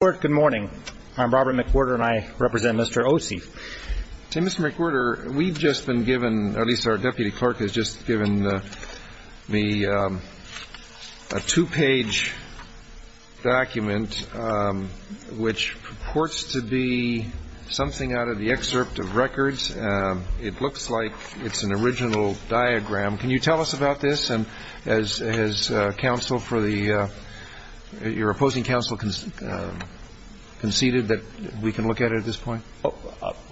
Good morning. I'm Robert McWhorter and I represent Mr. Osife. Mr. McWhorter, we've just been given, at least our deputy clerk has just given me a two-page document which purports to be something out of the excerpt of records. It looks like it's an original diagram. Can you tell us about this and has your opposing counsel conceded that we can look at it at this point?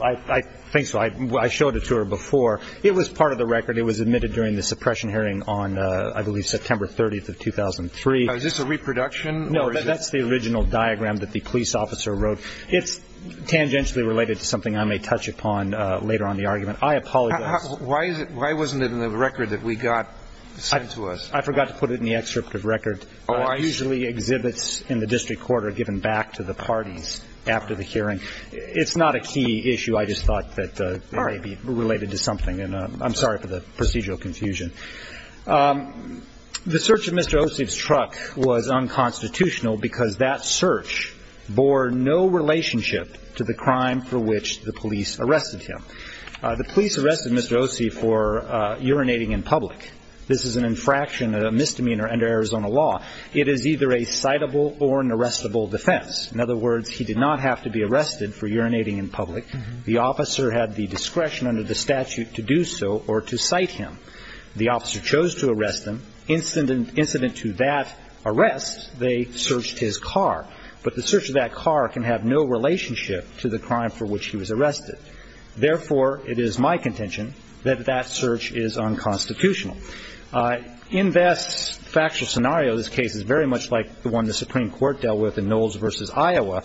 I think so. I showed it to her before. It was part of the record. It was admitted during the suppression hearing on, I believe, September 30th of 2003. Is this a reproduction? No, but that's the original diagram that the police officer wrote. It's tangentially related to something I may touch upon later on in the argument. I apologize. Why wasn't it in the record that we got sent to us? I forgot to put it in the excerpt of record. It usually exhibits in the district court or given back to the parties after the hearing. It's not a key issue. I just thought that it may be related to something. I'm sorry for the procedural confusion. The search of Mr. Osife's truck was unconstitutional because that search bore no relationship to the crime for which the police arrested him. The police arrested Mr. Osife for urinating in public. This is an infraction, a misdemeanor under Arizona law. It is either a citable or an arrestable defense. In other words, he did not have to be arrested for urinating in public. The officer had the discretion under the statute to do so or to cite him. The officer chose to arrest him. Incident to that arrest, they searched his car. But the search of that car can have no relationship to the crime for which he was arrested. Therefore, it is my contention that that search is unconstitutional. In this factual scenario, this case is very much like the one the Supreme Court dealt with in Knowles v. Iowa,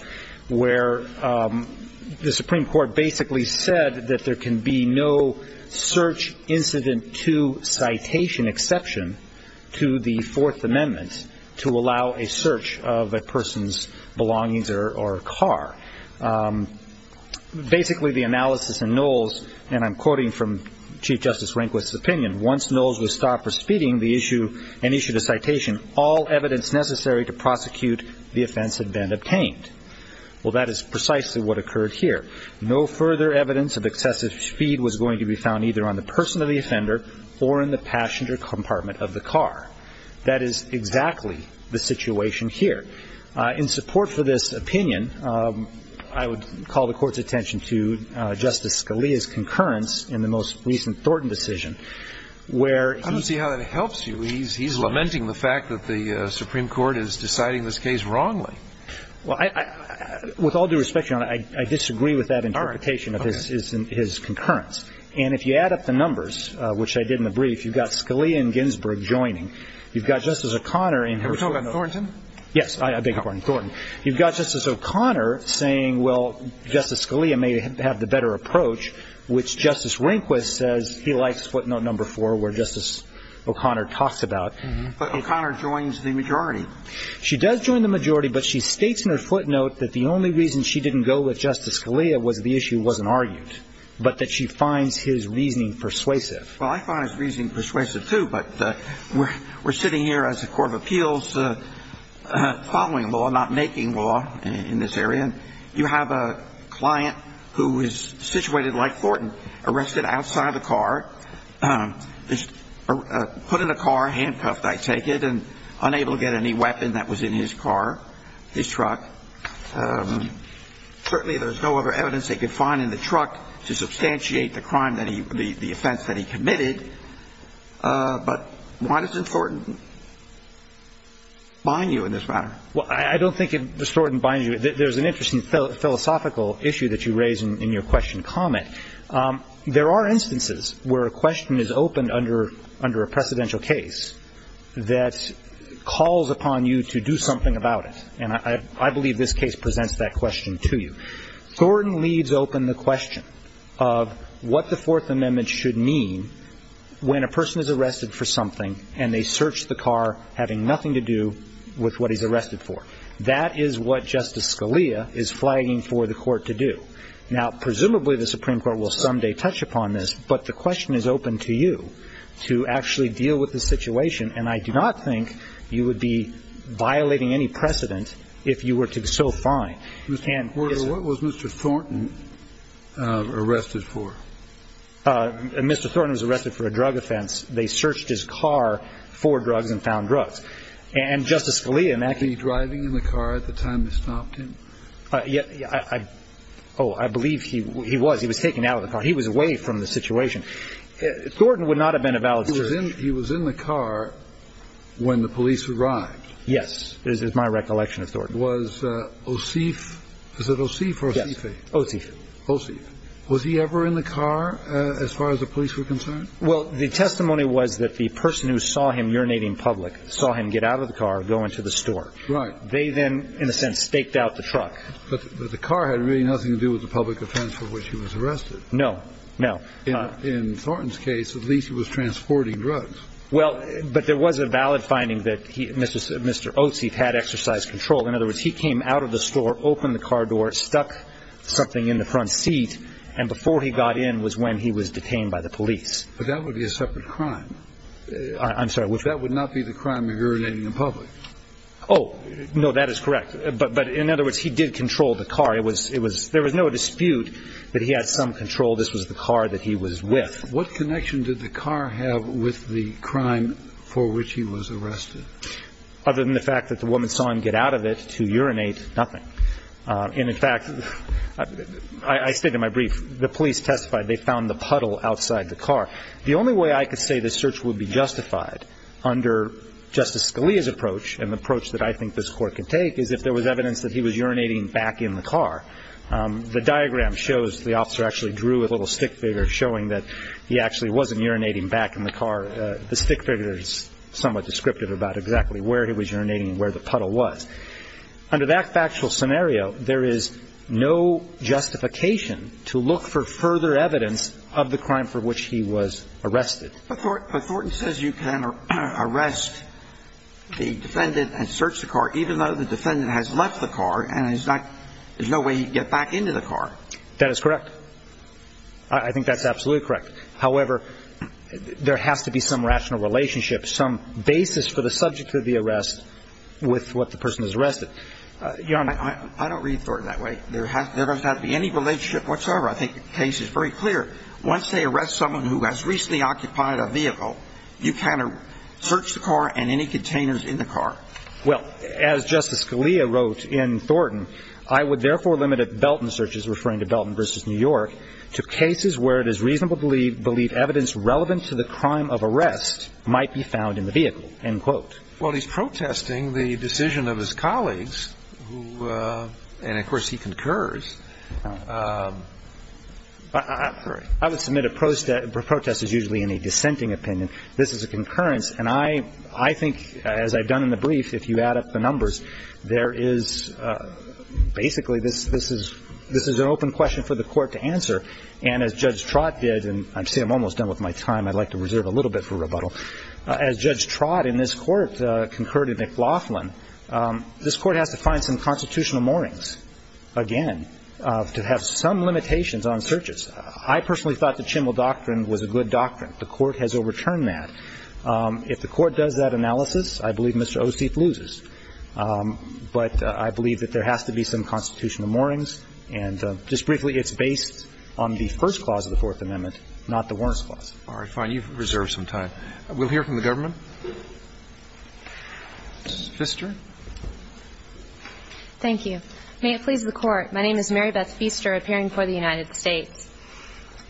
where the Supreme Court basically said that there can be no search incident to citation exception to the Fourth Amendment to allow a search of a person's belongings or car. Basically, the analysis in Knowles, and I'm quoting from Chief Justice Rehnquist's opinion, once Knowles was stopped for speeding and issued a citation, all evidence necessary to prosecute the offense had been obtained. Well, that is precisely what occurred here. No further evidence of excessive speed was going to be found either on the person or the offender or in the passenger compartment of the car. That is exactly the situation here. In support for this opinion, I would call the Court's attention to Justice Scalia's concurrence in the most recent Thornton decision. I don't see how that helps you. He's lamenting the fact that the Supreme Court is deciding this case wrongly. Well, with all due respect, Your Honor, I disagree with that interpretation of his concurrence. And if you add up the numbers, which I did in the brief, you've got Scalia and Ginsburg joining. You've got Justice O'Connor. Have we talked about Thornton? Yes. I beg your pardon. Thornton. You've got Justice O'Connor saying, well, Justice Scalia may have the better approach, which Justice Rehnquist says he likes footnote number four where Justice O'Connor talks about. But O'Connor joins the majority. She does join the majority, but she states in her footnote that the only reason she didn't go with Justice Scalia was the issue wasn't argued, but that she finds his reasoning persuasive. Well, I find his reasoning persuasive, too. But we're sitting here as a court of appeals following law, not making law in this area. You have a client who is situated like Thornton, arrested outside the car, put in a car, handcuffed, I take it, and unable to get any weapon that was in his car, his truck. Certainly there's no other evidence they could find in the truck to substantiate the crime that he – the offense that he committed. But why doesn't Thornton bind you in this matter? Well, I don't think that Thornton binds you. There's an interesting philosophical issue that you raise in your question comment. There are instances where a question is opened under a precedential case that calls upon you to do something about it. And I believe this case presents that question to you. Thornton leaves open the question of what the Fourth Amendment should mean when a person is arrested for something and they search the car having nothing to do with what he's arrested for. That is what Justice Scalia is flagging for the court to do. Now, presumably the Supreme Court will someday touch upon this, but the question is open to you to actually deal with the situation. And I do not think you would be violating any precedent if you were to so find. Mr. Porter, what was Mr. Thornton arrested for? Mr. Thornton was arrested for a drug offense. They searched his car for drugs and found drugs. And Justice Scalia in that case – Was he driving in the car at the time they stopped him? Yeah. Oh, I believe he was. He was taken out of the car. He was away from the situation. Thornton would not have been a valid search. He was in the car when the police arrived. Yes. This is my recollection of Thornton. Was Osif – is it Osif or Osife? Osif. Osif. Was he ever in the car as far as the police were concerned? Well, the testimony was that the person who saw him urinating public saw him get out of the car, go into the store. Right. They then, in a sense, staked out the truck. But the car had really nothing to do with the public offense for which he was arrested. No, no. In Thornton's case, at least he was transporting drugs. Well, but there was a valid finding that Mr. Osif had exercise control. In other words, he came out of the store, opened the car door, stuck something in the front seat, and before he got in was when he was detained by the police. But that would be a separate crime. I'm sorry. That would not be the crime of urinating in public. Oh, no, that is correct. But in other words, he did control the car. There was no dispute that he had some control. This was the car that he was with. What connection did the car have with the crime for which he was arrested? Other than the fact that the woman saw him get out of it to urinate, nothing. And, in fact, I state in my brief, the police testified they found the puddle outside the car. The only way I could say this search would be justified under Justice Scalia's approach and the approach that I think this Court can take is if there was evidence that he was urinating back in the car. The diagram shows the officer actually drew a little stick figure showing that he actually wasn't urinating back in the car. The stick figure is somewhat descriptive about exactly where he was urinating and where the puddle was. Under that factual scenario, there is no justification to look for further evidence of the crime for which he was arrested. But Thornton says you can arrest the defendant and search the car, and there's no way he'd get back into the car. That is correct. I think that's absolutely correct. However, there has to be some rational relationship, some basis for the subject of the arrest with what the person is arrested. Your Honor. I don't read Thornton that way. There doesn't have to be any relationship whatsoever. I think the case is very clear. Once they arrest someone who has recently occupied a vehicle, you can't search the car and any containers in the car. Well, as Justice Scalia wrote in Thornton, I would therefore limit Belton searches, referring to Belton v. New York, to cases where it is reasonable to believe evidence relevant to the crime of arrest might be found in the vehicle, end quote. Well, he's protesting the decision of his colleagues, and of course he concurs. I would submit a protest is usually in a dissenting opinion. This is a concurrence. And I think, as I've done in the brief, if you add up the numbers, there is basically this is an open question for the court to answer. And as Judge Trott did, and I see I'm almost done with my time. I'd like to reserve a little bit for rebuttal. As Judge Trott in this court concurred to McLaughlin, this court has to find some constitutional moorings, again, to have some limitations on searches. I personally thought the Chimel Doctrine was a good doctrine. The court has overturned that. If the court does that analysis, I believe Mr. Osteep loses. But I believe that there has to be some constitutional moorings. And just briefly, it's based on the first clause of the Fourth Amendment, not the Warrant's Clause. All right. Fine. You've reserved some time. We'll hear from the government. Ms. Pfister. Thank you. May it please the Court. My name is Mary Beth Pfister, appearing for the United States.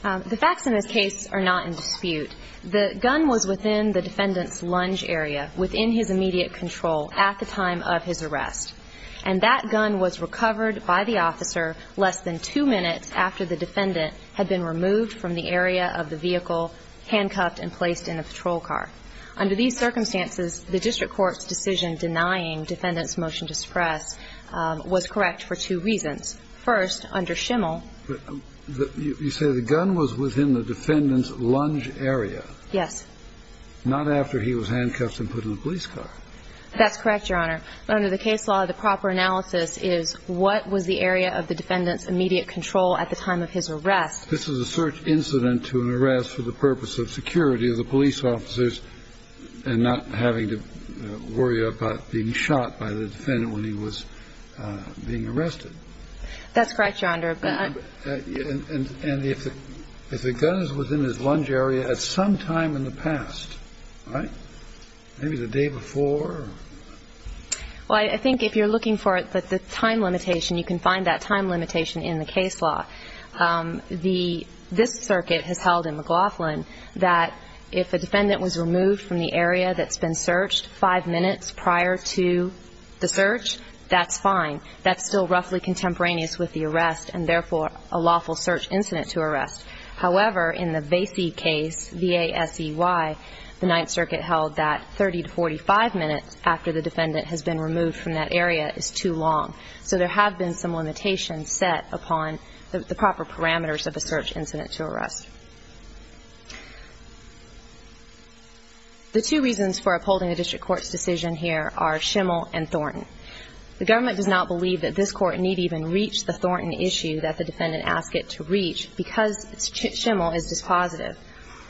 The facts in this case are not in dispute. The gun was within the defendant's lunge area, within his immediate control at the time of his arrest. And that gun was recovered by the officer less than two minutes after the defendant had been removed from the area of the vehicle, handcuffed and placed in a patrol car. Under these circumstances, the district court's decision denying defendant's motion to suppress was correct for two reasons. First, under Schimel. You say the gun was within the defendant's lunge area. Yes. Not after he was handcuffed and put in a police car. That's correct, Your Honor. But under the case law, the proper analysis is what was the area of the defendant's immediate control at the time of his arrest. This is a search incident to an arrest for the purpose of security of the police officers and not having to worry about being shot by the defendant when he was being arrested. That's correct, Your Honor. And if the gun was within his lunge area at some time in the past, right, maybe the day before? Well, I think if you're looking for the time limitation, you can find that time limitation in the case law. This circuit has held in McLaughlin that if a defendant was removed from the area that's been searched five minutes prior to the search, that's fine. That's still roughly contemporaneous with the arrest and, therefore, a lawful search incident to arrest. However, in the Vasey case, V-A-S-E-Y, the Ninth Circuit held that 30 to 45 minutes after the defendant has been removed from that area is too long. So there have been some limitations set upon the proper parameters of a search incident to arrest. The two reasons for upholding the district court's decision here are Schimel and Thornton. The government does not believe that this court need even reach the Thornton issue that the defendant asked it to reach because Schimel is dispositive.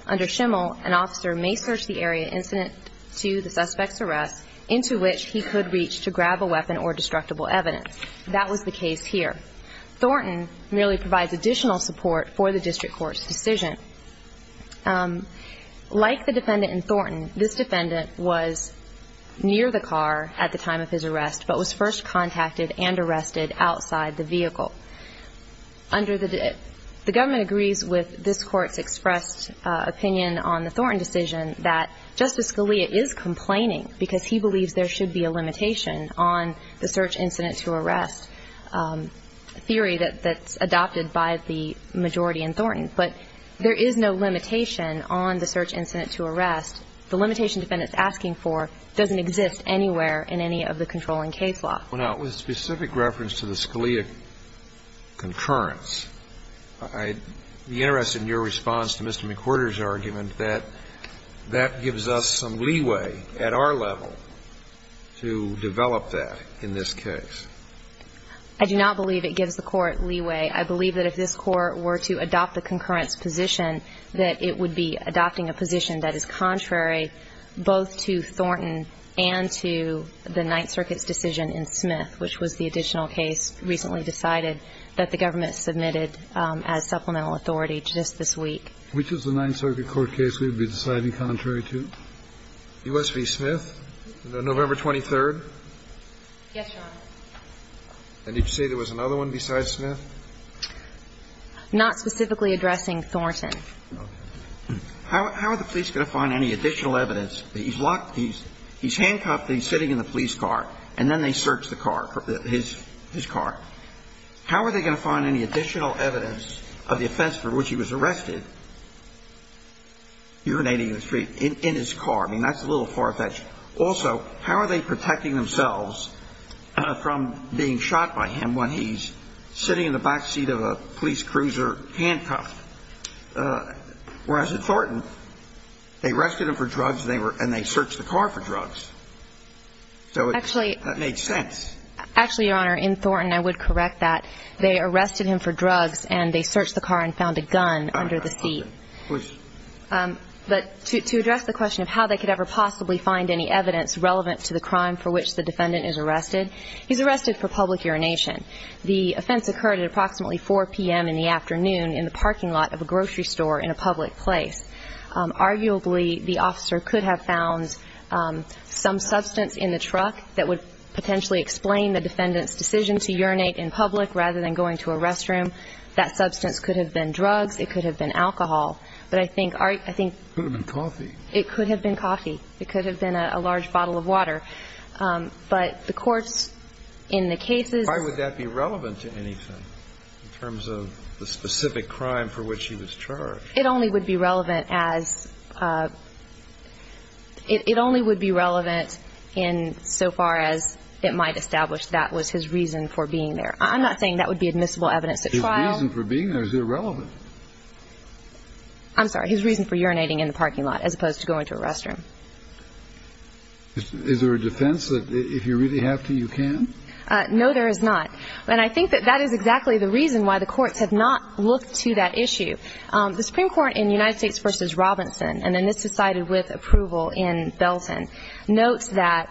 Under Schimel, an officer may search the area incident to the suspect's arrest into which he could reach to grab a weapon or destructible evidence. That was the case here. Thornton merely provides additional support for the district court's decision. Like the defendant in Thornton, this defendant was near the car at the time of his arrest but was first contacted and arrested outside the vehicle. The government agrees with this court's expressed opinion on the Thornton decision that Justice Scalia is complaining because he believes there should be a limitation on the search incident to arrest theory that's adopted by the majority in Thornton. But there is no limitation on the search incident to arrest. The limitation the defendant is asking for doesn't exist anywhere in any of the controlling case law. Well, now, with specific reference to the Scalia concurrence, I'd be interested in your response to Mr. McWhorter's argument that that gives us some leeway at our level to develop that in this case. I do not believe it gives the court leeway. I believe that if this court were to adopt the concurrence position, that it would be adopting a position that is contrary both to Thornton and to the Ninth Circuit's decision in Smith, which was the additional case recently decided that the government submitted as supplemental authority just this week. Which is the Ninth Circuit court case we would be deciding contrary to? U.S. v. Smith, November 23rd? Yes, Your Honor. And did you say there was another one besides Smith? Not specifically addressing Thornton. Okay. How are the police going to find any additional evidence? He's locked. He's handcuffed. He's sitting in the police car. And then they search the car, his car. How are they going to find any additional evidence of the offense for which he was arrested, urinating in the street, in his car? I mean, that's a little far-fetched. Also, how are they protecting themselves from being shot by him when he's sitting in the back seat of a police cruiser handcuffed? Whereas at Thornton, they arrested him for drugs and they searched the car for drugs. So that made sense. Actually, Your Honor, in Thornton, I would correct that. They arrested him for drugs and they searched the car and found a gun under the seat. Please. But to address the question of how they could ever possibly find any evidence relevant to the crime for which the defendant is arrested, he's arrested for public urination. The offense occurred at approximately 4 p.m. in the afternoon in the parking lot of a grocery store in a public place. Arguably, the officer could have found some substance in the truck that would potentially explain the defendant's decision to urinate in public rather than going to a restroom. That substance could have been drugs. It could have been alcohol. But I think art – I think – It could have been coffee. It could have been coffee. It could have been a large bottle of water. But the courts in the cases – Why would that be relevant to anything in terms of the specific crime for which he was charged? It only would be relevant as – It only would be relevant in so far as it might establish that was his reason for being there. I'm not saying that would be admissible evidence at trial. His reason for being there is irrelevant. I'm sorry. His reason for urinating in the parking lot as opposed to going to a restroom. Is there a defense that if you really have to, you can? No, there is not. And I think that that is exactly the reason why the courts have not looked to that issue. The Supreme Court in United States v. Robinson, and then this is cited with approval in Belton, notes that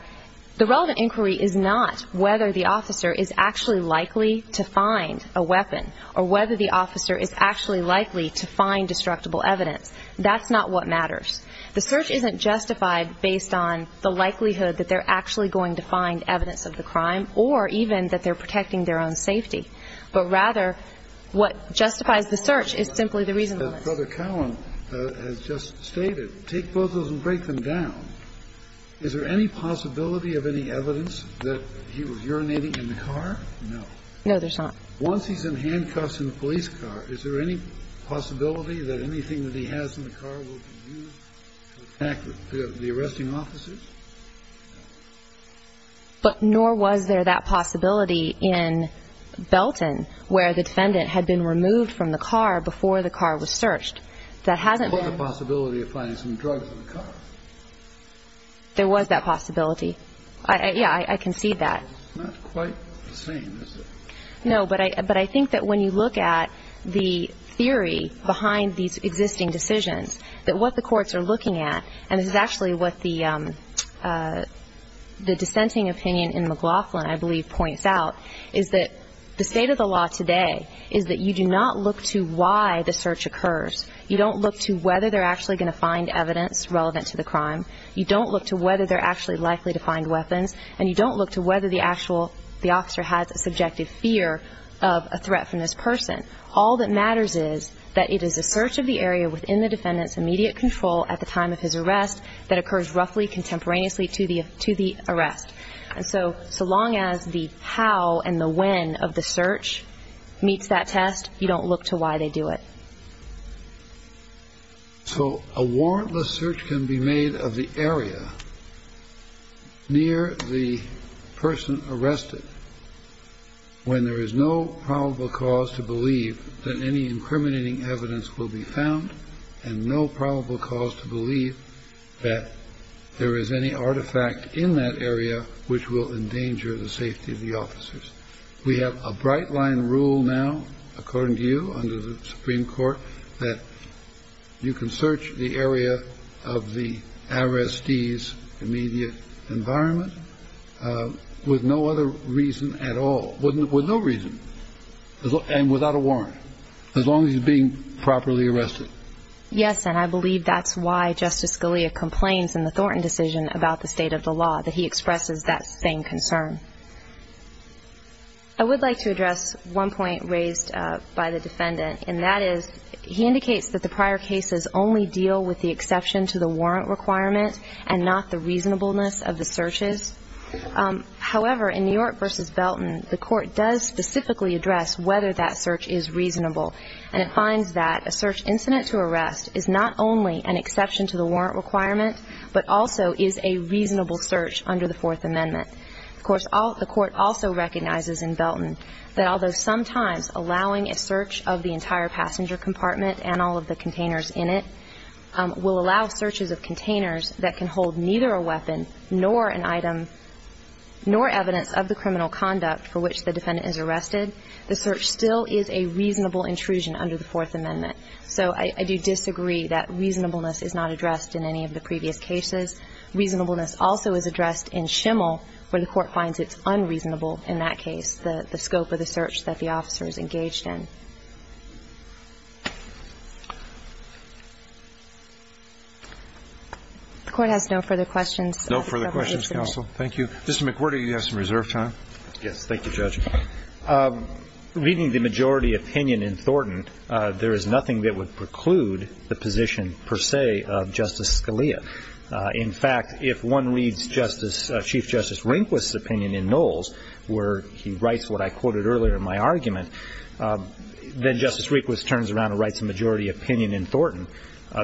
the relevant inquiry is not whether the officer is actually likely to find a weapon or whether the officer is actually likely to find destructible evidence. That's not what matters. The search isn't justified based on the likelihood that they're actually going to find evidence of the crime or even that they're protecting their own safety. But, rather, what justifies the search is simply the reason for it. As Brother Cowan has just stated, take both of those and break them down. Is there any possibility of any evidence that he was urinating in the car? No. No, there's not. Once he's in handcuffs in a police car, is there any possibility that anything that he has in the car will be used to attack the arresting officers? No. But nor was there that possibility in Belton where the defendant had been removed from the car before the car was searched. There was a possibility of finding some drugs in the car. There was that possibility. Yeah, I concede that. It's not quite the same, is it? No, but I think that when you look at the theory behind these existing decisions, that what the courts are looking at, and this is actually what the dissenting opinion in McLaughlin, I believe, points out, is that the state of the law today is that you do not look to why the search occurs. You don't look to whether they're actually going to find evidence relevant to the crime. You don't look to whether they're actually likely to find weapons, and you don't look to whether the officer has a subjective fear of a threat from this person. All that matters is that it is a search of the area within the defendant's immediate control at the time of his arrest that occurs roughly contemporaneously to the arrest. And so so long as the how and the when of the search meets that test, you don't look to why they do it. So a warrantless search can be made of the area near the person arrested when there is no probable cause to believe that any incriminating evidence will be found and no probable cause to believe that there is any artifact in that area which will endanger the safety of the officers. We have a bright line rule now, according to you, under the Supreme Court, that you can search the area of the arrestee's immediate environment with no other reason at all, with no reason and without a warrant, as long as he's being properly arrested. Yes, and I believe that's why Justice Scalia complains in the Thornton decision about the state of the law, that he expresses that same concern. I would like to address one point raised by the defendant, and that is he indicates that the prior cases only deal with the exception to the warrant requirement and not the reasonableness of the searches. However, in New York v. Belton, the Court does specifically address whether that search is reasonable, and it finds that a search incident to arrest is not only an exception to the warrant requirement, but also is a reasonable search under the Fourth Amendment. Of course, the Court also recognizes in Belton that although sometimes allowing a search of the entire passenger compartment and all of the containers in it will allow searches of containers that can hold neither a weapon nor an item nor evidence of the criminal conduct for which the defendant is arrested, the search still is a reasonable intrusion under the Fourth Amendment. So I do disagree that reasonableness is not addressed in any of the previous cases. Reasonableness also is addressed in Schimmel, where the Court finds it's unreasonable in that case, and that's the scope of the search that the officer is engaged in. The Court has no further questions. No further questions, counsel. Thank you. Justice McWherter, you have some reserve time. Yes. Thank you, Judge. Reading the majority opinion in Thornton, there is nothing that would preclude the position per se of Justice Scalia. In fact, if one reads Chief Justice Rehnquist's opinion in Knowles, where he writes what I quoted earlier in my argument, then Justice Rehnquist turns around and writes a majority opinion in Thornton.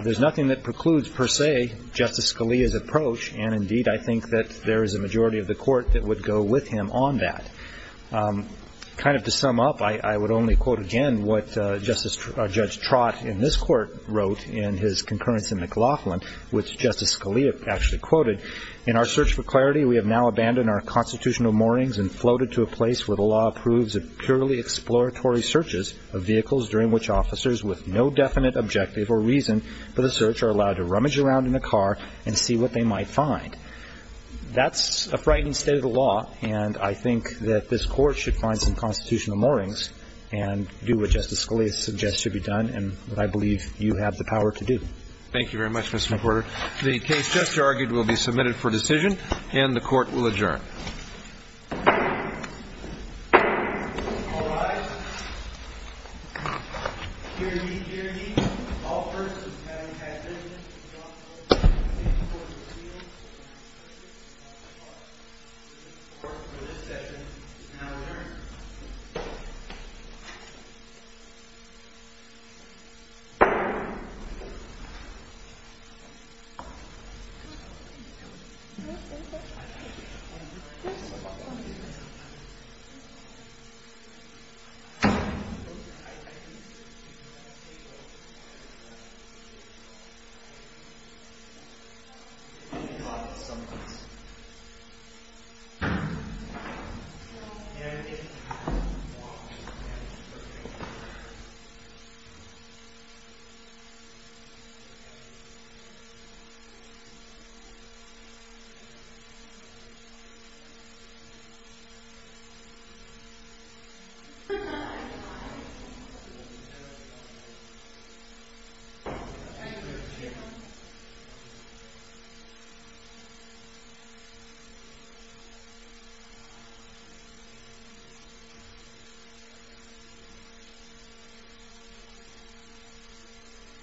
There's nothing that precludes per se Justice Scalia's approach, and indeed I think that there is a majority of the Court that would go with him on that. Kind of to sum up, I would only quote again what Judge Trott in this Court wrote in his concurrence in McLaughlin, which Justice Scalia actually quoted, in our search for clarity, we have now abandoned our constitutional moorings and floated to a place where the law approves of purely exploratory searches of vehicles during which officers with no definite objective or reason for the search are allowed to rummage around in a car and see what they might find. That's a frightening state of the law, and I think that this Court should find some constitutional moorings and do what Justice Scalia suggests should be done and what I believe you have the power to do. Thank you very much, Mr. McWhorter. The case just argued will be submitted for decision, and the Court will adjourn. All rise. Hear ye, hear ye. All persons having had business in the office of the Chief Court of Appeals for the last 30 days of July, this Court for this session is now adjourned. Thank you. Thank you.